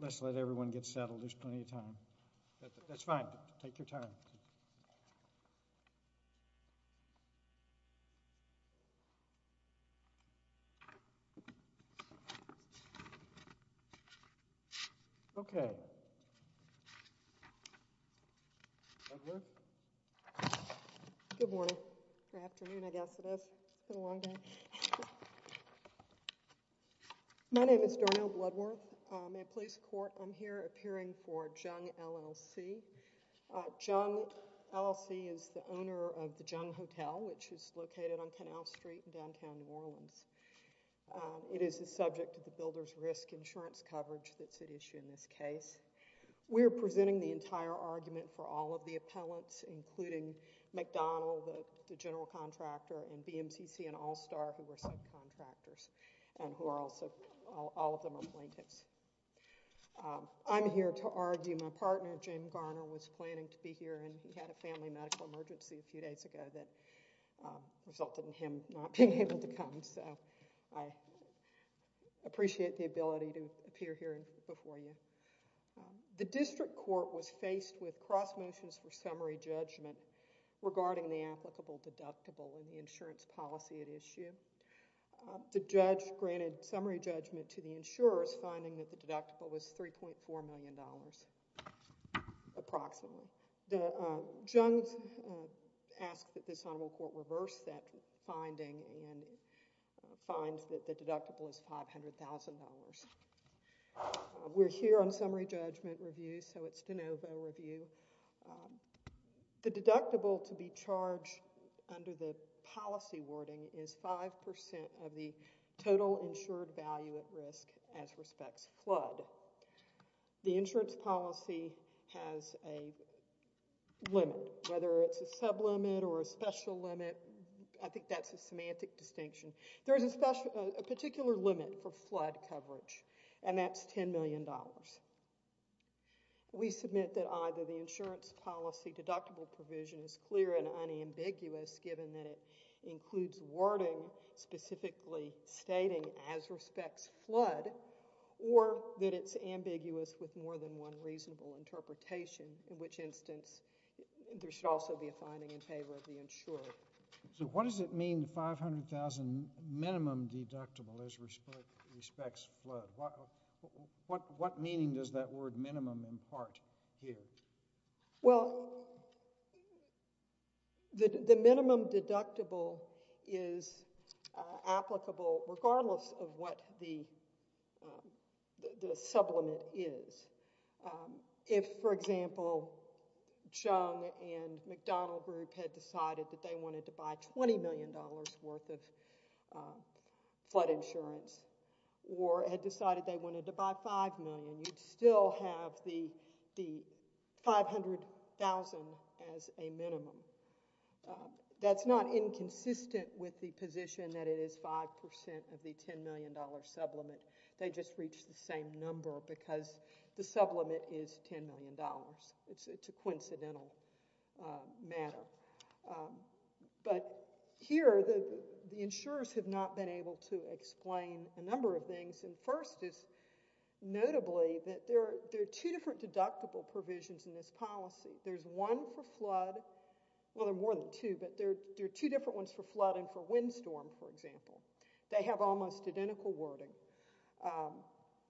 Let's let everyone get settled. There's plenty of time. That's fine. Take your time. Okay. Good morning. Good afternoon, I guess it is. It's been a long day. My name is Dornel Bloodworth. I'm a police court. I'm here appearing for Jung LLC. Jung LLC is the owner of the building that we're in right now. It is the subject of the builder's risk insurance coverage that's at issue in this case. We're presenting the entire argument for all of the appellants, including McDonald, the general contractor, and BMCC and All Star who were subcontractors and who are also, all of them are plaintiffs. I'm here to argue my partner, Jim Garner, was planning to be here and he had a family medical emergency a few days ago that resulted in him not being able to come, so I appreciate the ability to appear here before you. The district court was faced with cross motions for summary judgment regarding the applicable deductible and the insurance policy at issue. The judge granted summary judgment to the insurers, finding that the deductible was $3.4 million approximately. Jung asked that this honorable court reverse that finding and finds that the deductible is $500,000. We're here on summary judgment review, so it's de novo review. The deductible to be charged under the policy wording is 5% of the total insured value at risk as respects flood. The insurance policy has a limit, whether it's a sublimit or a special limit. I think that's a semantic distinction. There's a particular limit for flood coverage and that's $10 million. We submit that either the insurance policy deductible provision is clear and unambiguous given that it includes wording specifically stating as respects flood or that it's ambiguous with more than one reasonable interpretation, in which instance there should also be a finding in favor of the insurer. So what does it mean, the $500,000 minimum deductible as respects flood? What meaning does that word minimum impart here? Well, the minimum deductible is applicable regardless of what the sublimit is. If, for example, Jung and McDonnell Group had decided that they wanted to buy $20 million worth of flood insurance or had decided they wanted to buy $5 million, you'd still have the $500,000 as a minimum. That's not inconsistent with the position that it is 5% of the $10 million sublimit. They just reached the same It's a coincidental matter. But here the insurers have not been able to explain a number of things and first is notably that there are two different deductible provisions in this policy. There's one for flood, well there are more than two, but there are two different ones for flood and for windstorm, for example. They have almost identical wording.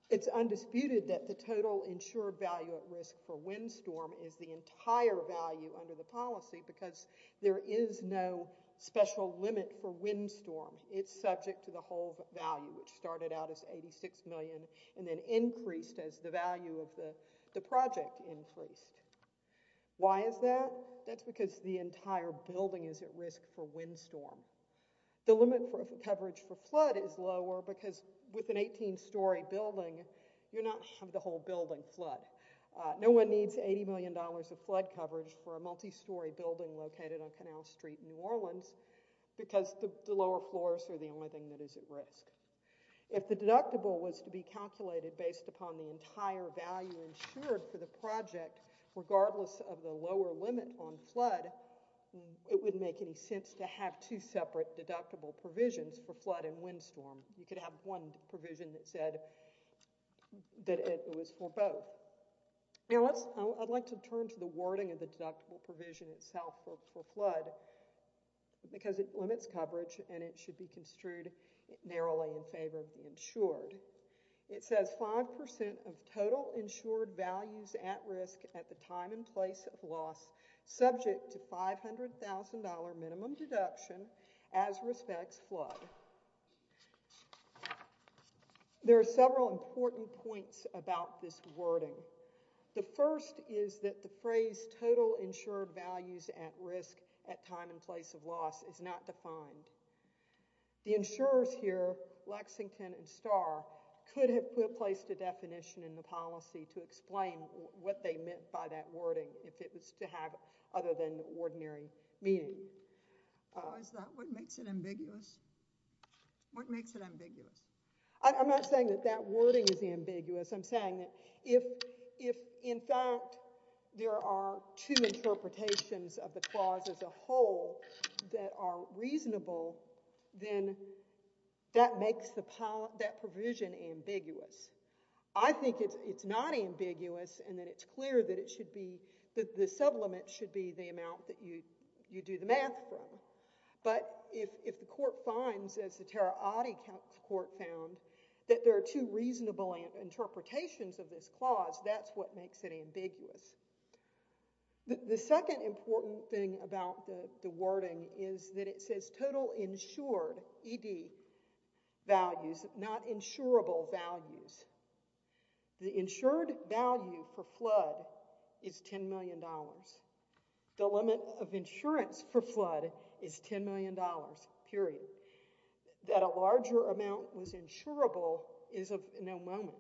It's undisputed that the total insured value at risk for windstorm is the entire value under the policy because there is no special limit for windstorm. It's subject to the whole value, which started out as $86 million and then increased as the value of the project increased. Why is that? That's because the entire building is at risk for windstorm. The limit for coverage for the whole building flood. No one needs $80 million of flood coverage for a multi-story building located on Canal Street in New Orleans because the lower floors are the only thing that is at risk. If the deductible was to be calculated based upon the entire value insured for the project, regardless of the lower limit on flood, it wouldn't make any sense to have two separate deductible provisions for flood and windstorm. You could have one provision that said that it was for both. I'd like to turn to the wording of the deductible provision itself for flood because it limits coverage and it should be construed narrowly in favor of the insured. It says 5% of total insured values at risk at the time and place of loss subject to $500,000 minimum deduction as respects flood. There are several important points about this wording. The first is that the phrase total insured values at risk at time and place of loss is not defined. The insurers here, Lexington and Starr, could have placed a definition in the policy to explain what they meant by that wording if it was to have other than ordinary meaning. Is that what makes it ambiguous? What makes it ambiguous? I'm not saying that that wording is ambiguous. I'm saying that if, in fact, there are two interpretations of the clause as a whole that are reasonable, then that provision is ambiguous. I think it's not ambiguous and that it's clear that the supplement should be the amount that you do the math from. But if the court finds, as the Terra Audis court found, that there are two reasonable interpretations of this clause, that's what makes it ambiguous. The second important thing about the wording is that it says total insured ED values, not insurable values. The insured value for flood is $10 million. The limit of insurance for flood is $10 million, period. That a larger amount was insurable is of no moment.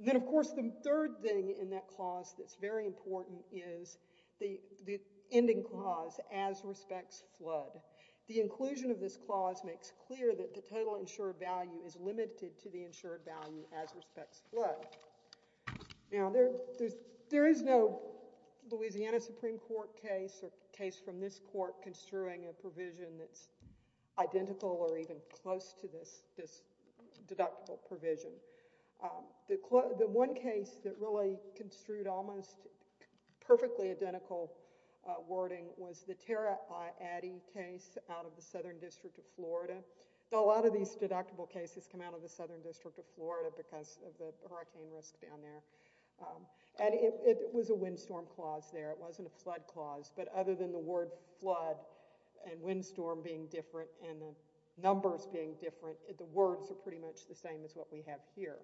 Then, of course, the third thing in that clause that's very important is the ending clause as respects flood. The inclusion of this clause makes clear that the total insured value is limited to the insured value as respects flood. Now, there is no Louisiana Supreme Court case or case from this court construing a provision that's identical or even close to this deductible provision. The one case that really construed almost perfectly identical wording was the Terra Audis case out of the Southern District of Florida. A lot of these deductible cases come out of the Southern District of Florida because of the hurricane risk down there. It was a windstorm clause there. It wasn't a flood clause. But other than the word flood and windstorm being different and the numbers being different, the words are pretty much the same as what we have here.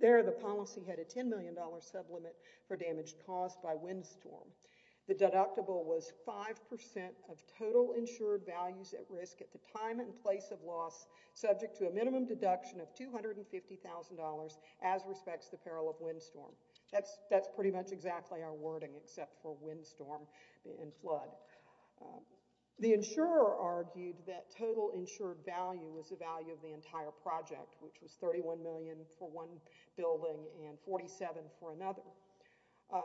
There, the policy had a $10 million sublimit for damaged cost by windstorm. The deductible was 5% of total insured values at risk at the time and place of loss subject to a minimum deduction of $250,000 as respects the peril of windstorm. That's pretty much exactly our wording except for windstorm and flood. The insurer argued that total insured value was the value of the entire project, which was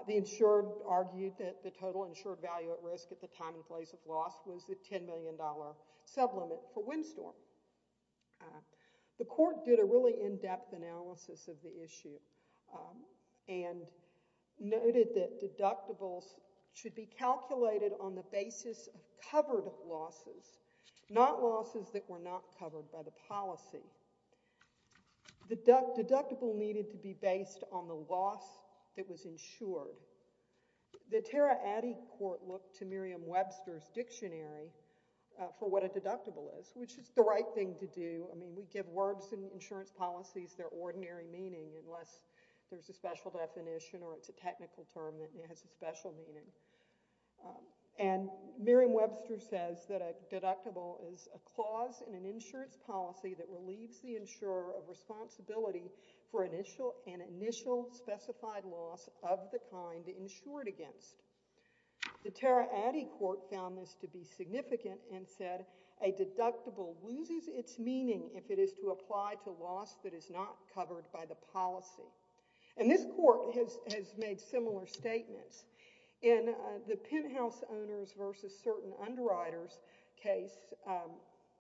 The insurer argued that the total insured value at risk at the time and place of loss was the $10 million sublimit for windstorm. The court did a really in-depth analysis of the issue and noted that deductibles should be calculated on the basis of covered losses, not losses that were not covered by the policy. The deductible needed to be based on the loss that was insured. The Tara Addy Court looked to Merriam-Webster's dictionary for what a deductible is, which is the right thing to do. I mean, we give words in insurance policies their ordinary meaning unless there's a special definition or it's a technical term that has a special meaning. And Merriam-Webster says that a deductible is a clause in an insurance policy that relieves the insurer of responsibility for an initial specified loss of the kind insured against. The Tara Addy Court found this to be significant and said a deductible loses its meaning if it is to apply to loss that is not covered by the policy. And this court has made similar statements. In the penthouse owners versus certain underwriters case,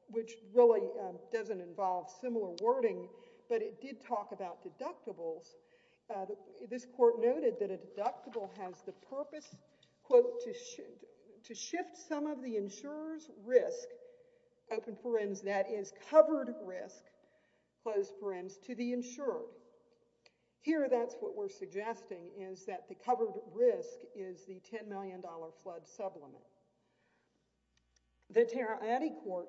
which really doesn't involve similar wording, but it did talk about deductibles, this court noted that a deductible has the purpose, quote, to shift some of the insurer's risk, open parens, that is covered risk, closed parens, to the insurer. Here, that's what we're suggesting is that the covered risk is the $10 million flood sublimate. The Tara Addy Court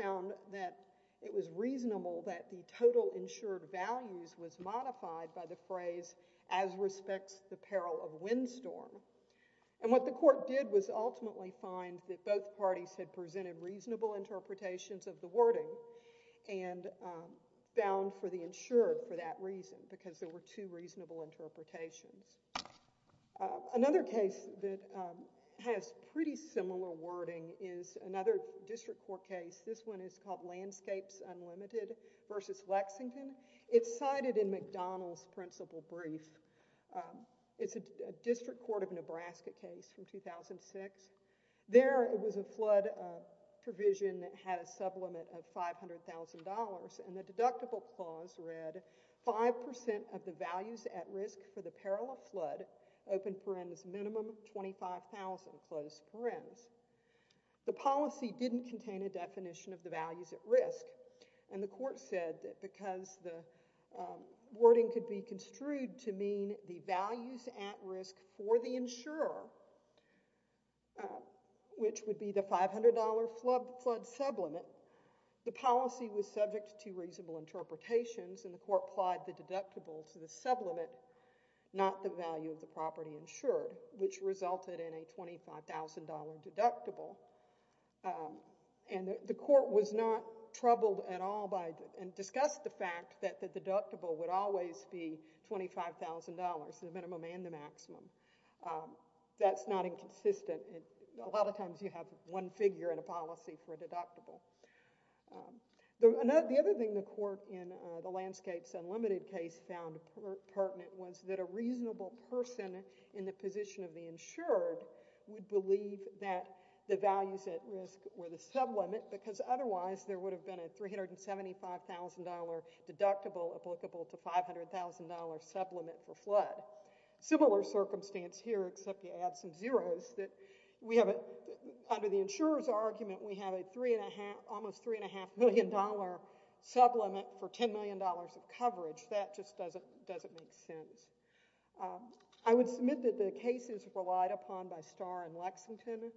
found that it was reasonable that the total insured values was modified by the phrase, as respects the peril of windstorm. And what the court did was ultimately find that both parties had presented reasonable interpretations of the wording and found for the insured for that reason, because there were two reasonable interpretations. Another case that has pretty similar wording is another district court case. This one is called Landscapes Unlimited versus Lexington. It's cited in McDonald's principal brief. It's a district court of Nebraska case from 2006. There, it was a flood provision that had a sublimate of $500,000, and the deductible clause read, 5% of the values at risk for the peril of flood, open parens, minimum of $25,000, closed parens. The policy didn't contain a definition of the values at risk, and the court said that because the wording could be construed to mean the values at risk for the insurer, which would be the $500 flood sublimate, the policy was subject to reasonable interpretations, and the court applied the deductible to the sublimate, not the value of the property insured, which resulted in a $25,000 deductible. And the court was not troubled at all and discussed the fact that the deductible would always be $25,000, the minimum and the maximum. That's not inconsistent. A lot of times you have one figure in a policy for a deductible. The other thing the court in the Landscapes Unlimited case found pertinent was that a reasonable person in the position of the insured would believe that the values at risk were the sublimate, because otherwise there would have been a $375,000 deductible applicable to $500,000 sublimate for flood. Similar circumstance here, except you add some zeros. Under the insurer's argument, we have a almost $3.5 million sublimate for $10 million of coverage. That just doesn't make sense. I would submit that the cases relied upon by Starr and Lexington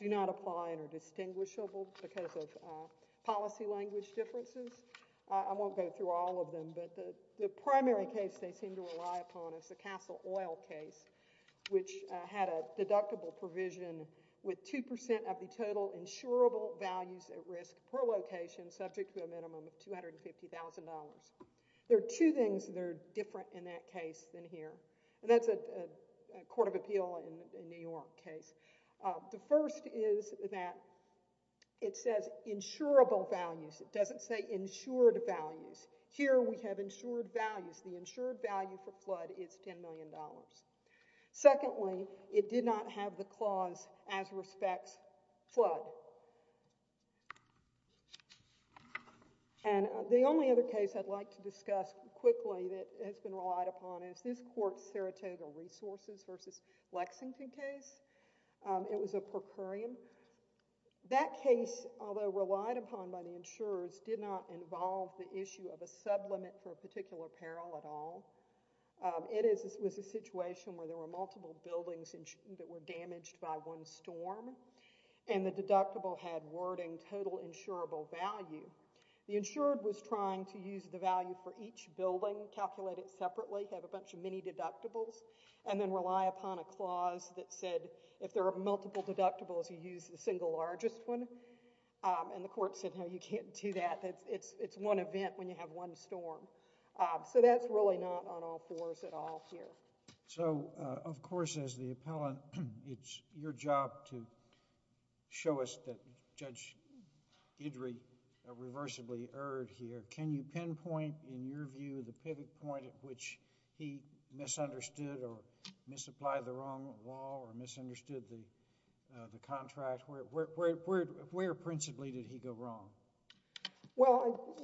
do not apply and are distinguishable because of policy language differences. I won't go through all of them, but the primary case they seem to rely upon is the Castle Oil case, which had a deductible provision with 2% of the total insurable values at risk per location subject to a minimum of $250,000. There are two things that are different in that case than here, and that's a Court of Appeal in New York case. The first is that it says insurable values. It doesn't say insured values. Here we have insured values. The insured value for flood is $10 million. Secondly, it did not have the clause as respects flood. The only other case I'd like to discuss quickly that has been relied upon is this Court's Saratoga Resources v. Lexington case. It was a per curiam. That case, although relied upon by the insurers, did not involve the issue of a sublimate for a particular peril at all. It was a situation where there were multiple buildings that were damaged by one storm, and the deductible had wording total insurable value. The insured was trying to use the value for each building, calculate it separately, have a bunch of mini-deductibles, and then rely upon a clause that said if there are multiple deductibles, you use the single largest one. The court said, no, you can't do that. It's one event when you have one storm. That's really not on all fours at all here. So, of course, as the appellant, it's your job to show us that Judge Guidry reversibly erred here. Can you pinpoint, in your view, the pivot point at which he misunderstood or misapplied the wrong law or misunderstood the contract? Where principally did he go wrong? Well,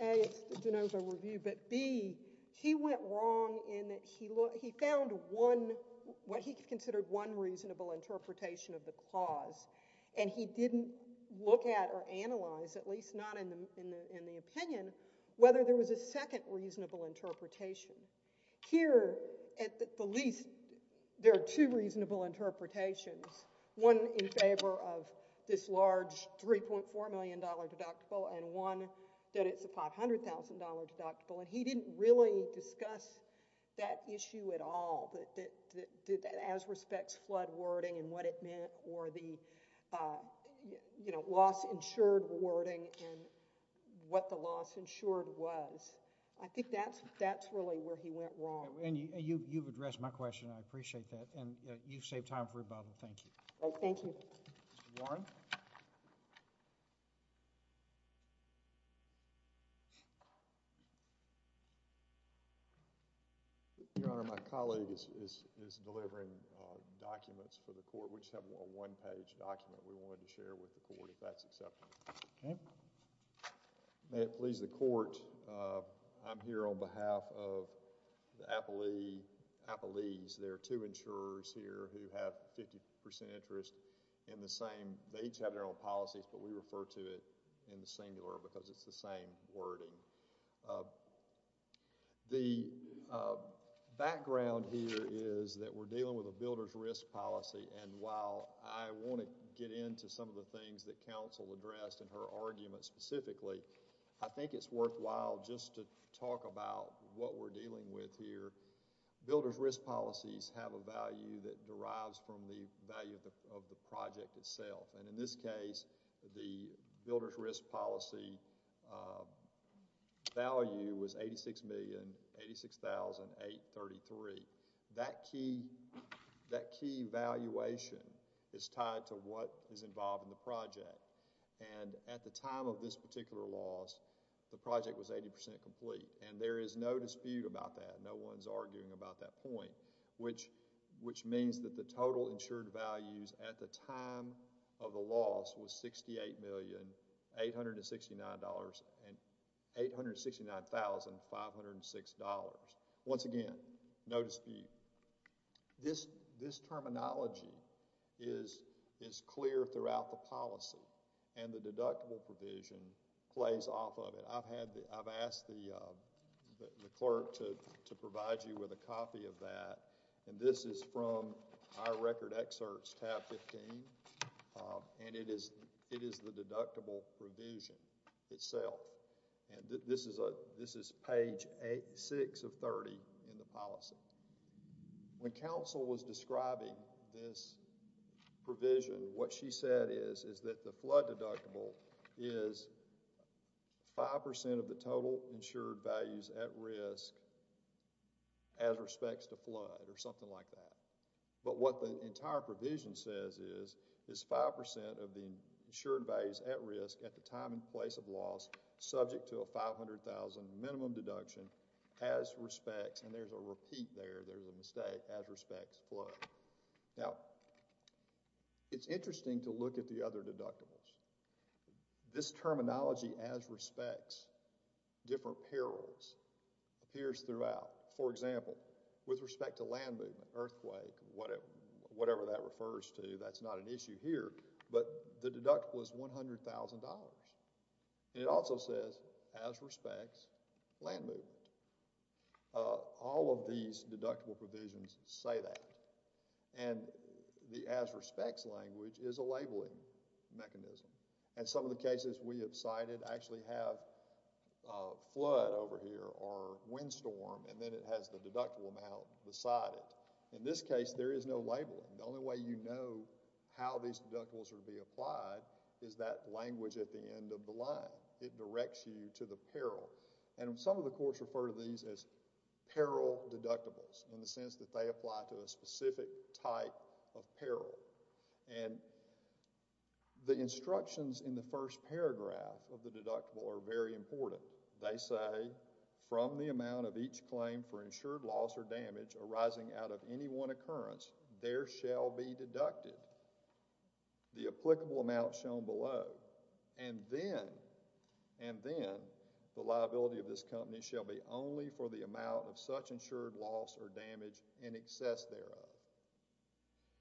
A, it's De Novo Review, but B, he went wrong in that he found what he considered one reasonable interpretation of the clause, and he didn't look at or analyze, at least not in the opinion, whether there was a second reasonable interpretation. Here, at the least, there are two reasonable interpretations, one in favor of this large $3.4 million deductible and one that it's a $500,000 deductible, and he didn't really discuss that issue at all, as respects flood wording and what it meant or the loss-insured wording and what the loss-insured was. I think that's really where he went wrong. And you've addressed my question. I appreciate that. And you've saved time for rebuttal. Thank you. Thank you. Mr. Warren? Your Honor, my colleague is delivering documents for the court, which have a one-page document we wanted to share with the court, if that's acceptable. Okay. May it please the court, I'm here on behalf of the appellees. There are two insurers here who have 50% interest in the same... they each have their own policies, but we refer to it in the singular because it's the same wording. The background here is that we're dealing with a builder's risk policy, and while I want to get into some of the things that counsel addressed in her argument specifically, I think it's worthwhile just to talk about what we're dealing with here. Builder's risk policies have a value that derives from the value of the project itself, and in this case, the builder's risk policy value was $86,083,000. That key valuation is tied to what is involved in the project, and at the time of this particular loss, the project was 80% complete, and there is no dispute about that. No one's arguing about that point, which means that the total insured values at the time of the loss was $869,506. Once again, no dispute. This terminology is clear throughout the policy, and the deductible provision plays off of it. I've asked the clerk to provide you with a copy of that, and this is from our record excerpts, tab 15, and it is the deductible provision itself, and this is page 6 of 30 in the policy. When counsel was describing this provision, what she said is that the flood deductible is 5% of the total insured values at risk as respects to flood or something like that, but what the entire provision says is it's 5% of the insured values at risk at the time and place of loss subject to a $500,000 minimum deduction as respects, and there's a repeat there, there's a mistake, as respects flood. Now, it's interesting to look at the other deductibles. This terminology, as respects different perils, appears throughout. For example, with respect to land movement, earthquake, whatever that refers to, that's not an issue here, but the deductible is $100,000, and it also says as respects land movement. All of these deductible provisions say that, and the as respects language is a labeling mechanism, and some of the cases we have cited actually have flood over here or windstorm, and then it has the deductible amount beside it. In this case, there is no labeling. The only way you know how these deductibles are to be applied is that language at the end of the line. It directs you to the peril, and some of the courts refer to these as peril deductibles in the sense that they apply to a specific type of peril, and the instructions in the first paragraph of the deductible are very important. They say, from the amount of each claim for insured loss or damage arising out of any one occurrence, there shall be deducted the applicable amount shown below, and then the liability of this company shall be only for the amount of such insured loss or damage in excess thereof,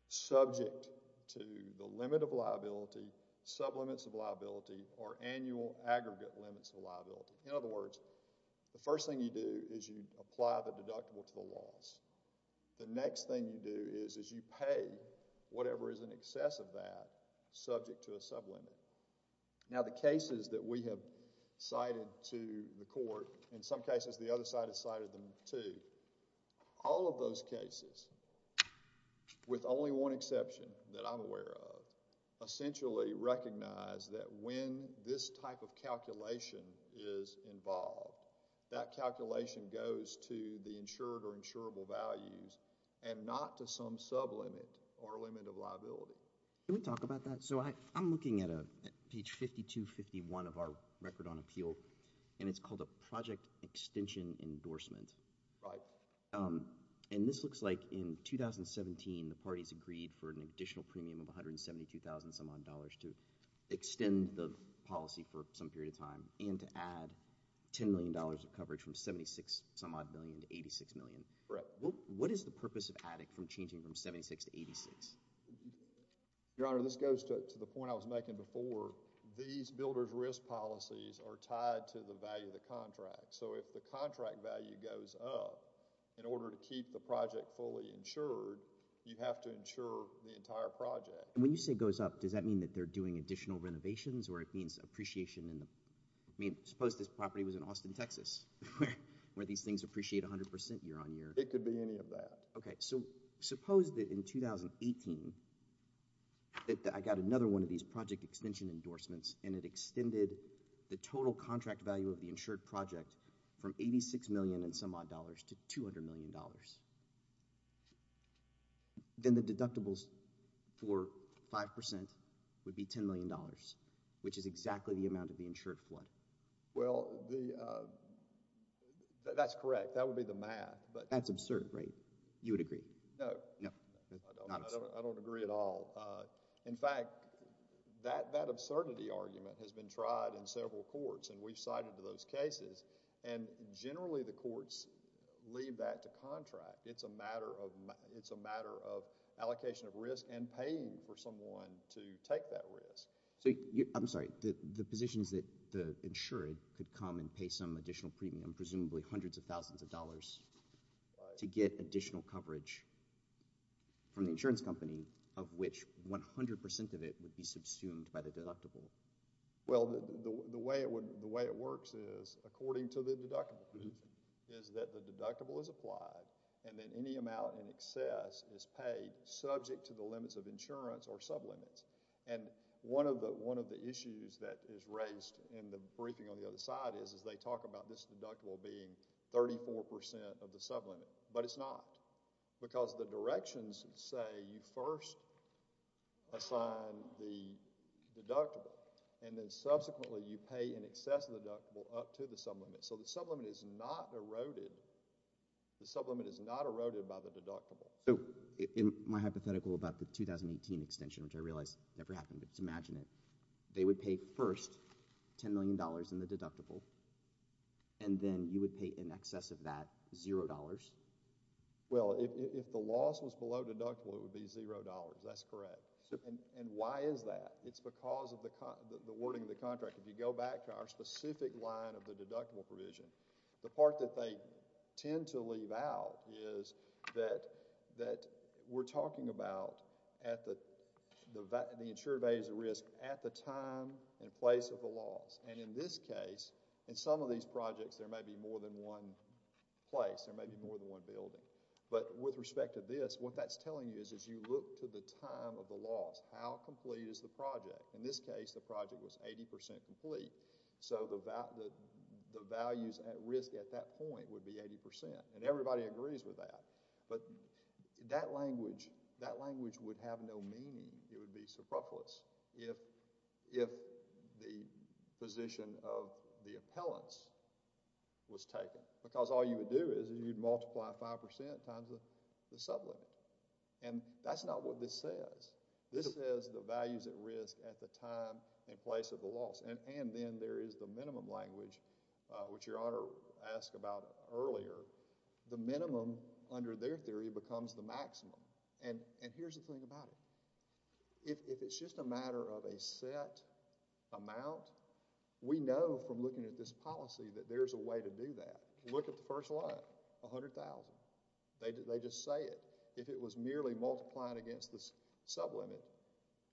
subject to the limit of liability, sublimits of liability, or annual aggregate limits of liability. In other words, the first thing you do is you apply the deductible to the loss. The next thing you do is you pay whatever is in excess of that subject to a sublimit. Now, the cases that we have cited to the court, in some cases the other side has cited them too, all of those cases, with only one exception that I'm aware of, essentially recognize that when this type of calculation is involved, that calculation goes to the insured or insurable values and not to some sublimit or limit of liability. Can we talk about that? So I'm looking at page 5251 of our record on appeal, and it's called a project extension endorsement. Right. And this looks like in 2017, the parties agreed for an additional premium of $172,000 some period of time, and to add $10 million of coverage from $76 some odd million to $86 million. Correct. What is the purpose of adding from changing from $76 to $86? Your Honor, this goes to the point I was making before. These builder's risk policies are tied to the value of the contract. So if the contract value goes up, in order to keep the project fully insured, you have to insure the entire project. And when you say it goes up, does that mean that they're doing additional renovations or it means appreciation? I mean, suppose this property was in Austin, Texas, where these things appreciate 100% year on year. It could be any of that. Okay. So suppose that in 2018, that I got another one of these project extension endorsements and it extended the total contract value of the insured project from $86 million and some would agree. No. No. I don't agree at all. In fact, that absurdity argument has been tried in several courts and we've cited those cases, and generally the courts leave that to contract. It's a matter of allocation of risk and paying for someone to take that risk. I'm sorry. The position is that the insured could come and pay some additional premium, presumably hundreds of thousands of dollars, to get additional coverage from the insurance company, of which 100% of it would be subsumed by the deductible. Well, the way it works is, according to the deductible, is that the deductible is applied and then any amount in excess is paid subject to the limits of insurance or sublimits. And one of the issues that is raised in the briefing on the other side is they talk about this deductible being 34% of the sublimit, but it's not, because the directions say you first assign the deductible and then subsequently you pay in excess of the deductible up to the sublimit. So the sublimit is not eroded, the sublimit is not eroded by the deductible. So, in my hypothetical about the 2018 extension, which I realize never happened, but just imagine it, they would pay first $10 million in the deductible and then you would pay in excess of that $0? Well, if the loss was below deductible, it would be $0. That's correct. And why is that? It's because of the wording of the contract. If you go back to our specific line of the deductible provision, the part that they tend to leave out is that we're talking about the insured values of risk at the time and place of the loss. And in this case, in some of these projects, there may be more than one place, there may be more than one building. But with respect to this, what that's telling you is as you look to the time of the loss, how complete is the project? In this case, the project was 80% complete, so the values at risk at that point would be 80%. And everybody agrees with that. But that language would have no meaning, it would be superfluous, if the position of the appellants was taken. Because all you would do is you'd multiply 5% times the sublimit. And that's not what this says. This says the values at risk at the time and place of the loss. And then there is the minimum language, which Your Honor asked about earlier. The minimum, under their theory, becomes the maximum. And here's the thing about it. If it's just a matter of a set amount, we know from looking at this policy that there's a way to do that. Look at the first line, 100,000. They just say it. If it was merely multiplying against the sublimit,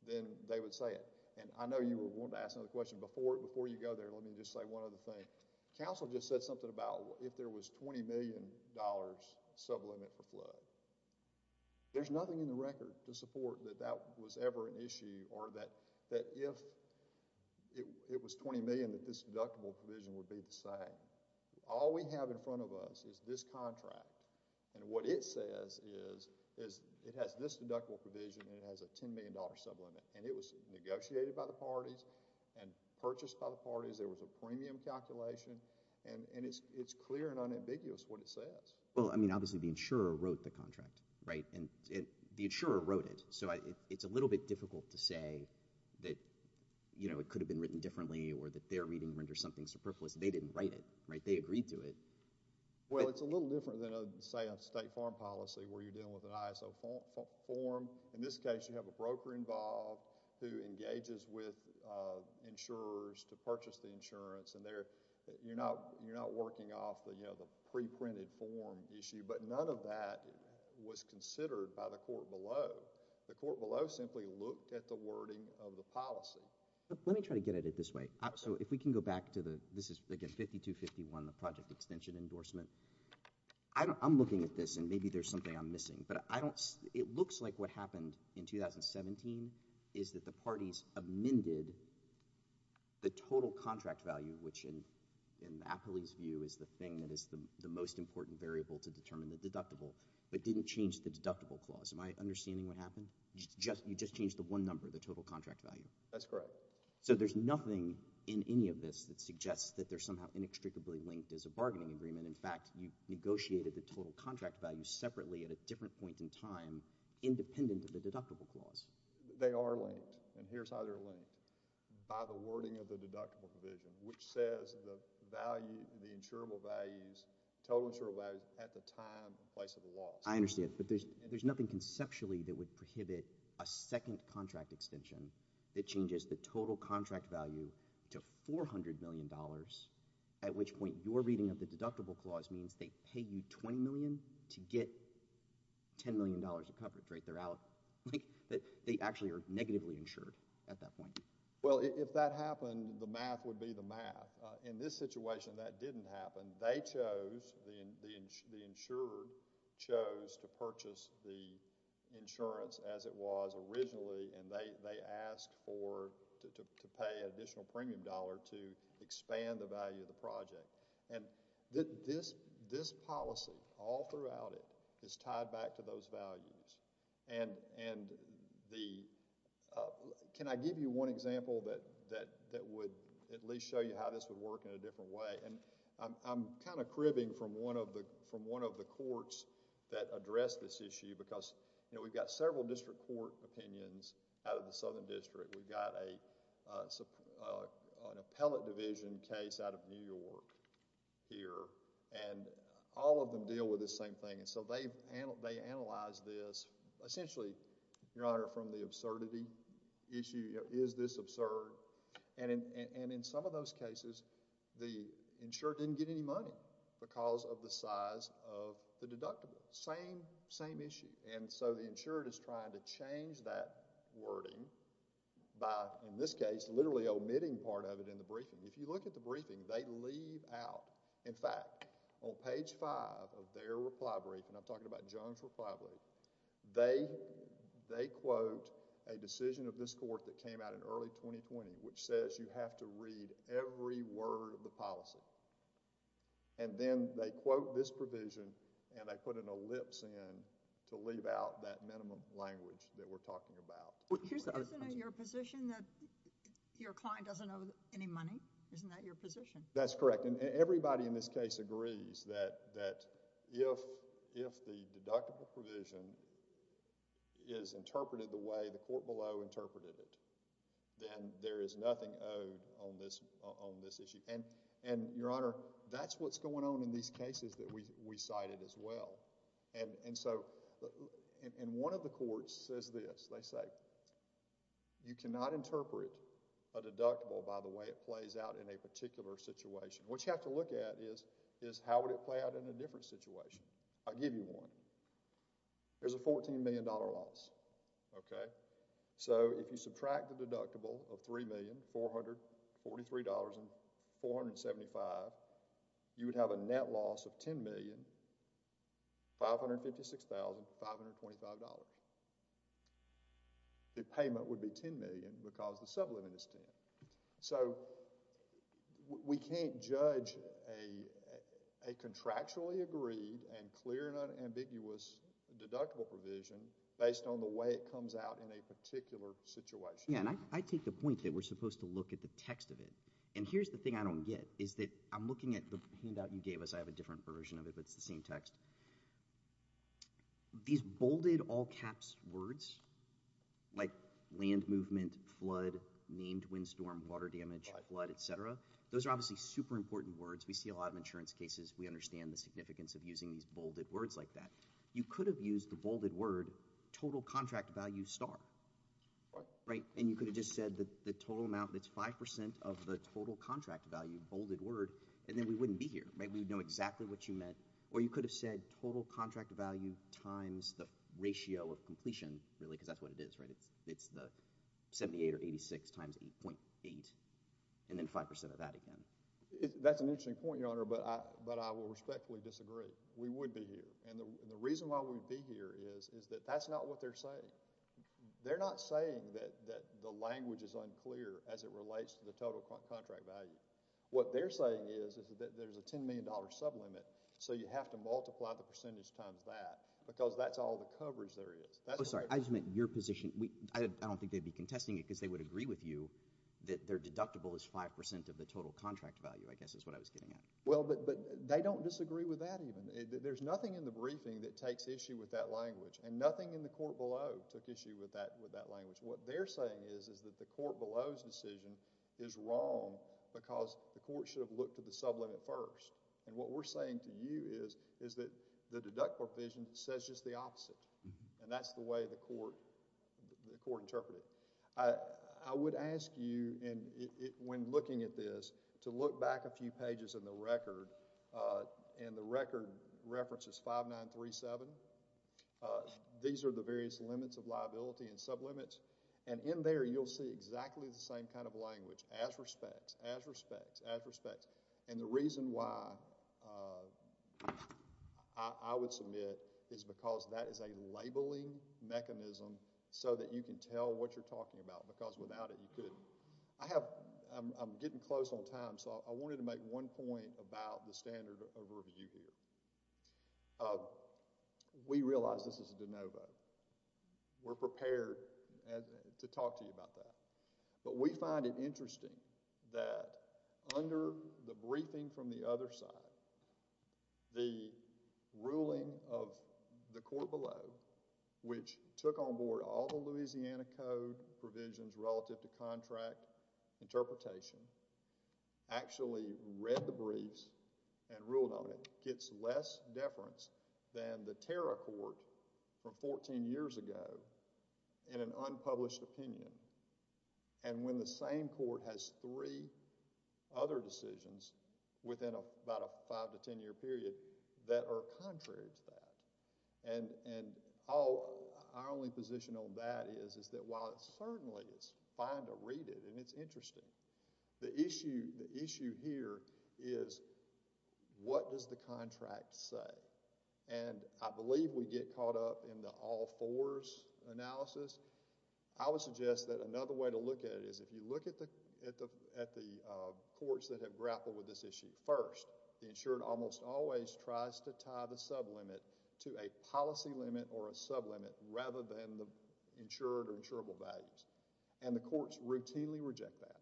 then they would say it. And I know you wanted to ask another question. Before you go there, let me just say one other thing. Counsel just said something about if there was $20 million sublimit for flood. There's nothing in the record to support that that was ever an issue or that if it was $20 million that this deductible provision would be the same. All we have in front of us is this contract. And what it says is it has this deductible provision and it has a $10 million sublimit. And it was negotiated by the parties and purchased by the parties. There was a premium calculation. And it's clear and unambiguous what it says. Well, I mean, obviously the insurer wrote the contract, right? And the insurer wrote it. So it's a little bit difficult to say that, you know, it could have been written differently or that their reading renders something superfluous. They didn't write it, right? They agreed to it. Well, it's a little different than, say, a state farm policy where you're dealing with an ISO form. In this case, you have a broker involved who engages with insurers to purchase the insurance. And you're not working off the pre-printed form issue. But none of that was considered by the court below. The court below simply looked at the wording of the policy. Let me try to get at it this way. So if we can go back to the... this is, again, 5251, the project extension endorsement. I'm looking at this, and maybe there's something I'm missing. But I don't... it looks like what happened in 2017 is that the parties amended the total contract value, which in Appley's view is the thing that is the most important variable to determine the deductible, but didn't change the deductible clause. Am I understanding what happened? You just changed the one number, the total contract value. That's correct. Okay. So there's nothing in any of this that suggests that they're somehow inextricably linked as a bargaining agreement. In fact, you negotiated the total contract value separately at a different point in time, independent of the deductible clause. They are linked. And here's how they're linked. By the wording of the deductible provision, which says the value... the insurable values... total insurable values at the time and place of the loss. I understand. But there's nothing conceptually that would prohibit a second contract extension that changes the total contract value to $400 million, at which point your reading of the deductible clause means they pay you $20 million to get $10 million of coverage, right? They're out. They actually are negatively insured at that point. Well, if that happened, the math would be the math. In this situation, that didn't happen. They chose... the insurer chose to purchase the insurance as it was originally and they asked for... to pay additional premium dollar to expand the value of the project. This policy, all throughout it, is tied back to those values. Can I give you one example that would at least show you how this would work in a different way? I'm kind of cribbing from one of the courts that addressed this issue because we've got several district court opinions out of the Southern District. We've got an appellate division case out of New York here and all of them deal with the same thing. They analyzed this essentially, Your Honor, from the absurdity issue, is this absurd? In some of those cases, the insurer didn't get any money because of the size of the deductible. Same issue. The insurer is trying to change that wording by, in this case, literally omitting part of it in the briefing. If you look at the briefing, they leave out... in fact, on page five of their reply brief, and I'm talking about Jones' reply brief, they quote a decision of this court that came out in early 2020 which says you have to read every word of the policy. Then they quote this provision and they put an ellipse in to leave out that minimum language that we're talking about. Isn't it your position that your client doesn't owe any money? Isn't that your position? That's correct. Everybody in this case agrees that if the deductible provision is interpreted the way the court below you want it to be interpreted, that's what's going on in these cases that we cited as well. One of the courts says this, they say, you cannot interpret a deductible by the way it plays out in a particular situation. What you have to look at is how would it play out in a different situation? I'll give you one. There's a $14 million loss. If you subtract the deductible of $3,443,000 from $3,475,000, you would have a net loss of $10,556,525. The payment would be $10 million because the sublimit is 10. We can't judge a contractually agreed and clear and unambiguous deductible provision based on the way it comes out in a particular situation. I take the point that we're supposed to look at the text of it. Here's the thing I don't get. I'm looking at the handout you gave us. I have a different version of it, but it's the same text. These bolded all-caps words like land movement, flood, named windstorm, water damage, flood, et cetera, those are obviously super important words. We see a lot of insurance cases. We understand the significance of using these bolded words like that. You could have used the total amount that's 5% of the total contract value, bolded word, and then we wouldn't be here. We would know exactly what you meant. Or you could have said total contract value times the ratio of completion, really, because that's what it is. It's the 78 or 86 times 8.8, and then 5% of that again. That's an interesting point, Your Honor, but I will respectfully disagree. We would be here. The reason why we'd be here is that that's not what they're saying. They're not saying that the language is unclear as it relates to the total contract value. What they're saying is that there's a $10 million sublimit, so you have to multiply the percentage times that because that's all the coverage there is. Oh, sorry. I just meant your position. I don't think they'd be contesting it because they would agree with you that their deductible is 5% of the total contract value, I guess is what I was getting at. Well, but they don't disagree with that even. There's nothing in the language. What they're saying is that the court below's decision is wrong because the court should have looked at the sublimit first, and what we're saying to you is that the deductible provision says just the opposite, and that's the way the court interpreted it. I would ask you, when looking at this, to look back a few pages in the documents of liability and sublimits, and in there you'll see exactly the same kind of language, as respects, as respects, as respects, and the reason why I would submit is because that is a labeling mechanism so that you can tell what you're talking about because without it you couldn't. I'm getting close on time, so I wanted to make one point about the standard of review here. We realize this is de novo. We're prepared to talk to you about that, but we find it interesting that under the briefing from the other side, the ruling of the court below, which took on board all the Louisiana Code provisions relative to contract interpretation, actually read the briefs and ruled on it, gets less deference than the Terra Court from fourteen years ago in an unpublished opinion, and when the same court has three other decisions within about a five to ten year period that are contrary to that, and our only position on that is that while it certainly is fine to have a sublimit, it's not fine to have a sublimit. The question here is what does the contract say? I believe we get caught up in the all fours analysis. I would suggest that another way to look at it is if you look at the courts that have grappled with this issue. First, the courts routinely reject that.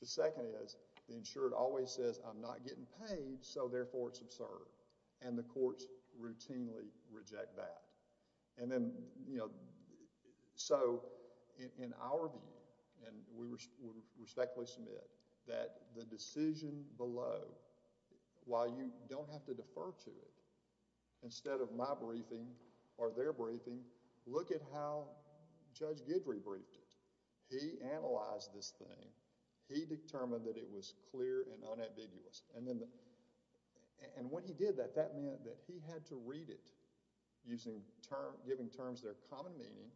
The second is the insured always says, I'm not getting paid, so therefore it's absurd, and the courts routinely reject that. In our view, and we respectfully submit that the decision below, while you don't have to defer to it, instead of my briefing or their briefing, look at how Judge Guidry briefed it. He analyzed this thing. He determined that it was clear and unambiguous, and when he did that, that meant that he had to read it, giving terms that are common meaning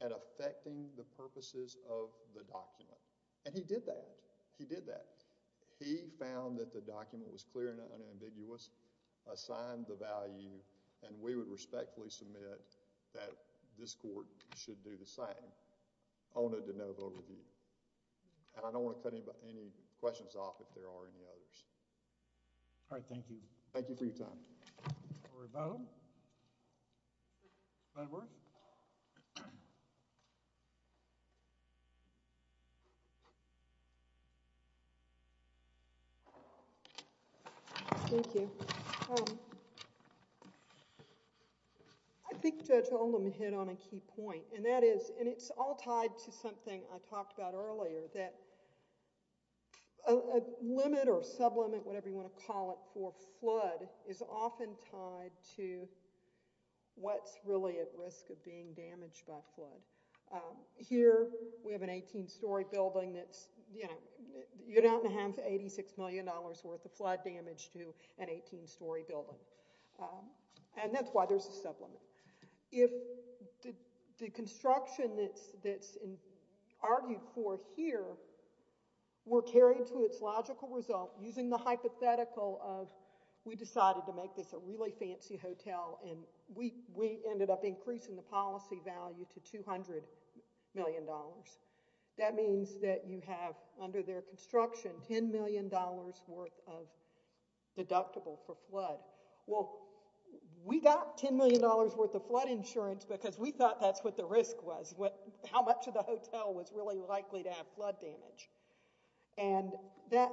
and affecting the purposes of the document, and he did that. He did that. He found that the document was clear and unambiguous, assigned the value, and we would respectfully submit that this court should do the same on a de novo review. I don't want to cut any questions off if there are any others. Thank you. Thank you for your time. Don't worry about it. Thank you. I think Judge Oldham hit on a key point, and that is, and it's all tied to something I talked about earlier, that a limit or sublimit, whatever you want to call it, for flood is often tied to what's really at risk of being damaged by flood. Here, we have an 18-story building that's, you know, you're not going to have $86 million worth of flood damage to an 18-story building, and that's why there's a sublimit. If the construction that's argued for here were carried to its logical result using the hypothetical of, we decided to make this a really fancy hotel, and we ended up increasing the policy value to $200 million. That means that you have, under their construction, $10 million worth of deductible for flood. Well, we got $10 million worth of flood insurance because we thought that's what the risk was, how much of the hotel was really likely to have flood damage. And that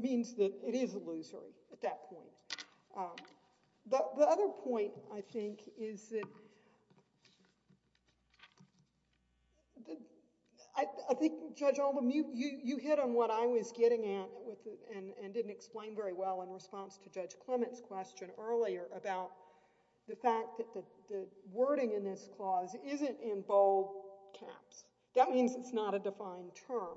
means that it is illusory at that point. The other point, I think, is that I think, Judge Oldham, you hit on what I was getting at and didn't explain very well in response to Judge Clement's question earlier about the fact that the wording in this clause isn't in bold caps. That means it's not a defined term.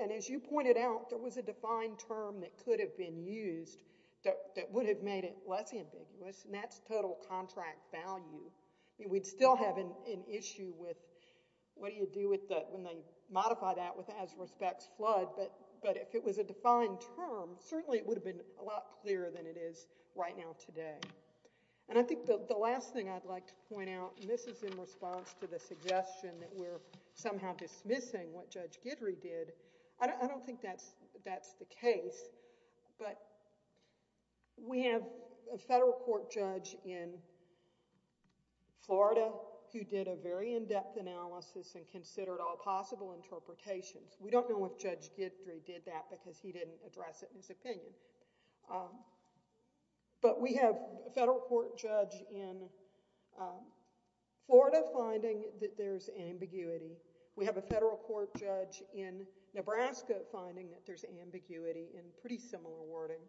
And as you pointed out, there was a defined term that could have been used that would have made it less ambiguous, and that's total contract value. We'd still have an issue with what do you do when they modify that with as respects flood, but if it was a defined term, certainly it would have been a lot clearer than it is right now today. And I think the last thing I'd like to point out, and this is in response to the suggestion that we're somehow dismissing what Judge Guidry did, I don't think that's the case. But we have a federal court judge in Florida who did a very in-depth analysis and considered all possible interpretations. We don't know if Judge Guidry did that because he didn't address it in his opinion. But we have a federal court judge in Florida finding that there's ambiguity. We have a federal court judge in Nebraska finding that there's ambiguity in pretty similar wording.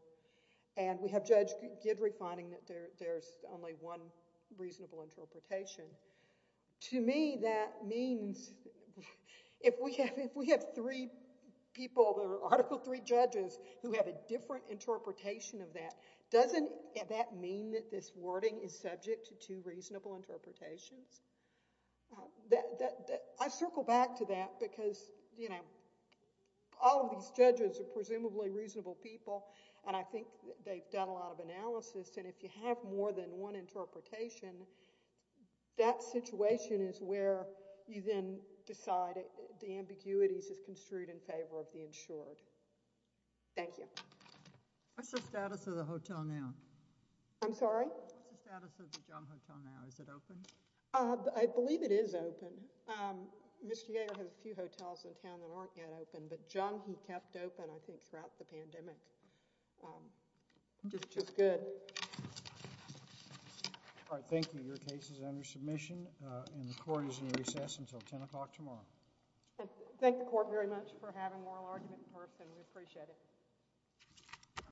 And we have Judge Guidry finding that there's only one reasonable interpretation. To me, that means if we have three people, there are Article III judges who have a different interpretation of that. Doesn't that mean that this wording is subject to two reasonable interpretations? I circle back to that because all of these judges are presumably reasonable people, and I think they've done a lot of analysis. And if you have more than one interpretation, that situation is where you then decide the ambiguity is construed in favor of the insured. Thank you. What's the status of the hotel now? I'm sorry? What's the status of the Jung Hotel now? Is it open? I believe it is open. Mr. Yeager has a few hotels in town that aren't yet open, but Jung, he kept open, I think, throughout the pandemic, which is good. All right. Thank you. Your case is under submission, and the court is in recess until 10 o'clock tomorrow. Thank the court very much for having moral argument first, and we appreciate it.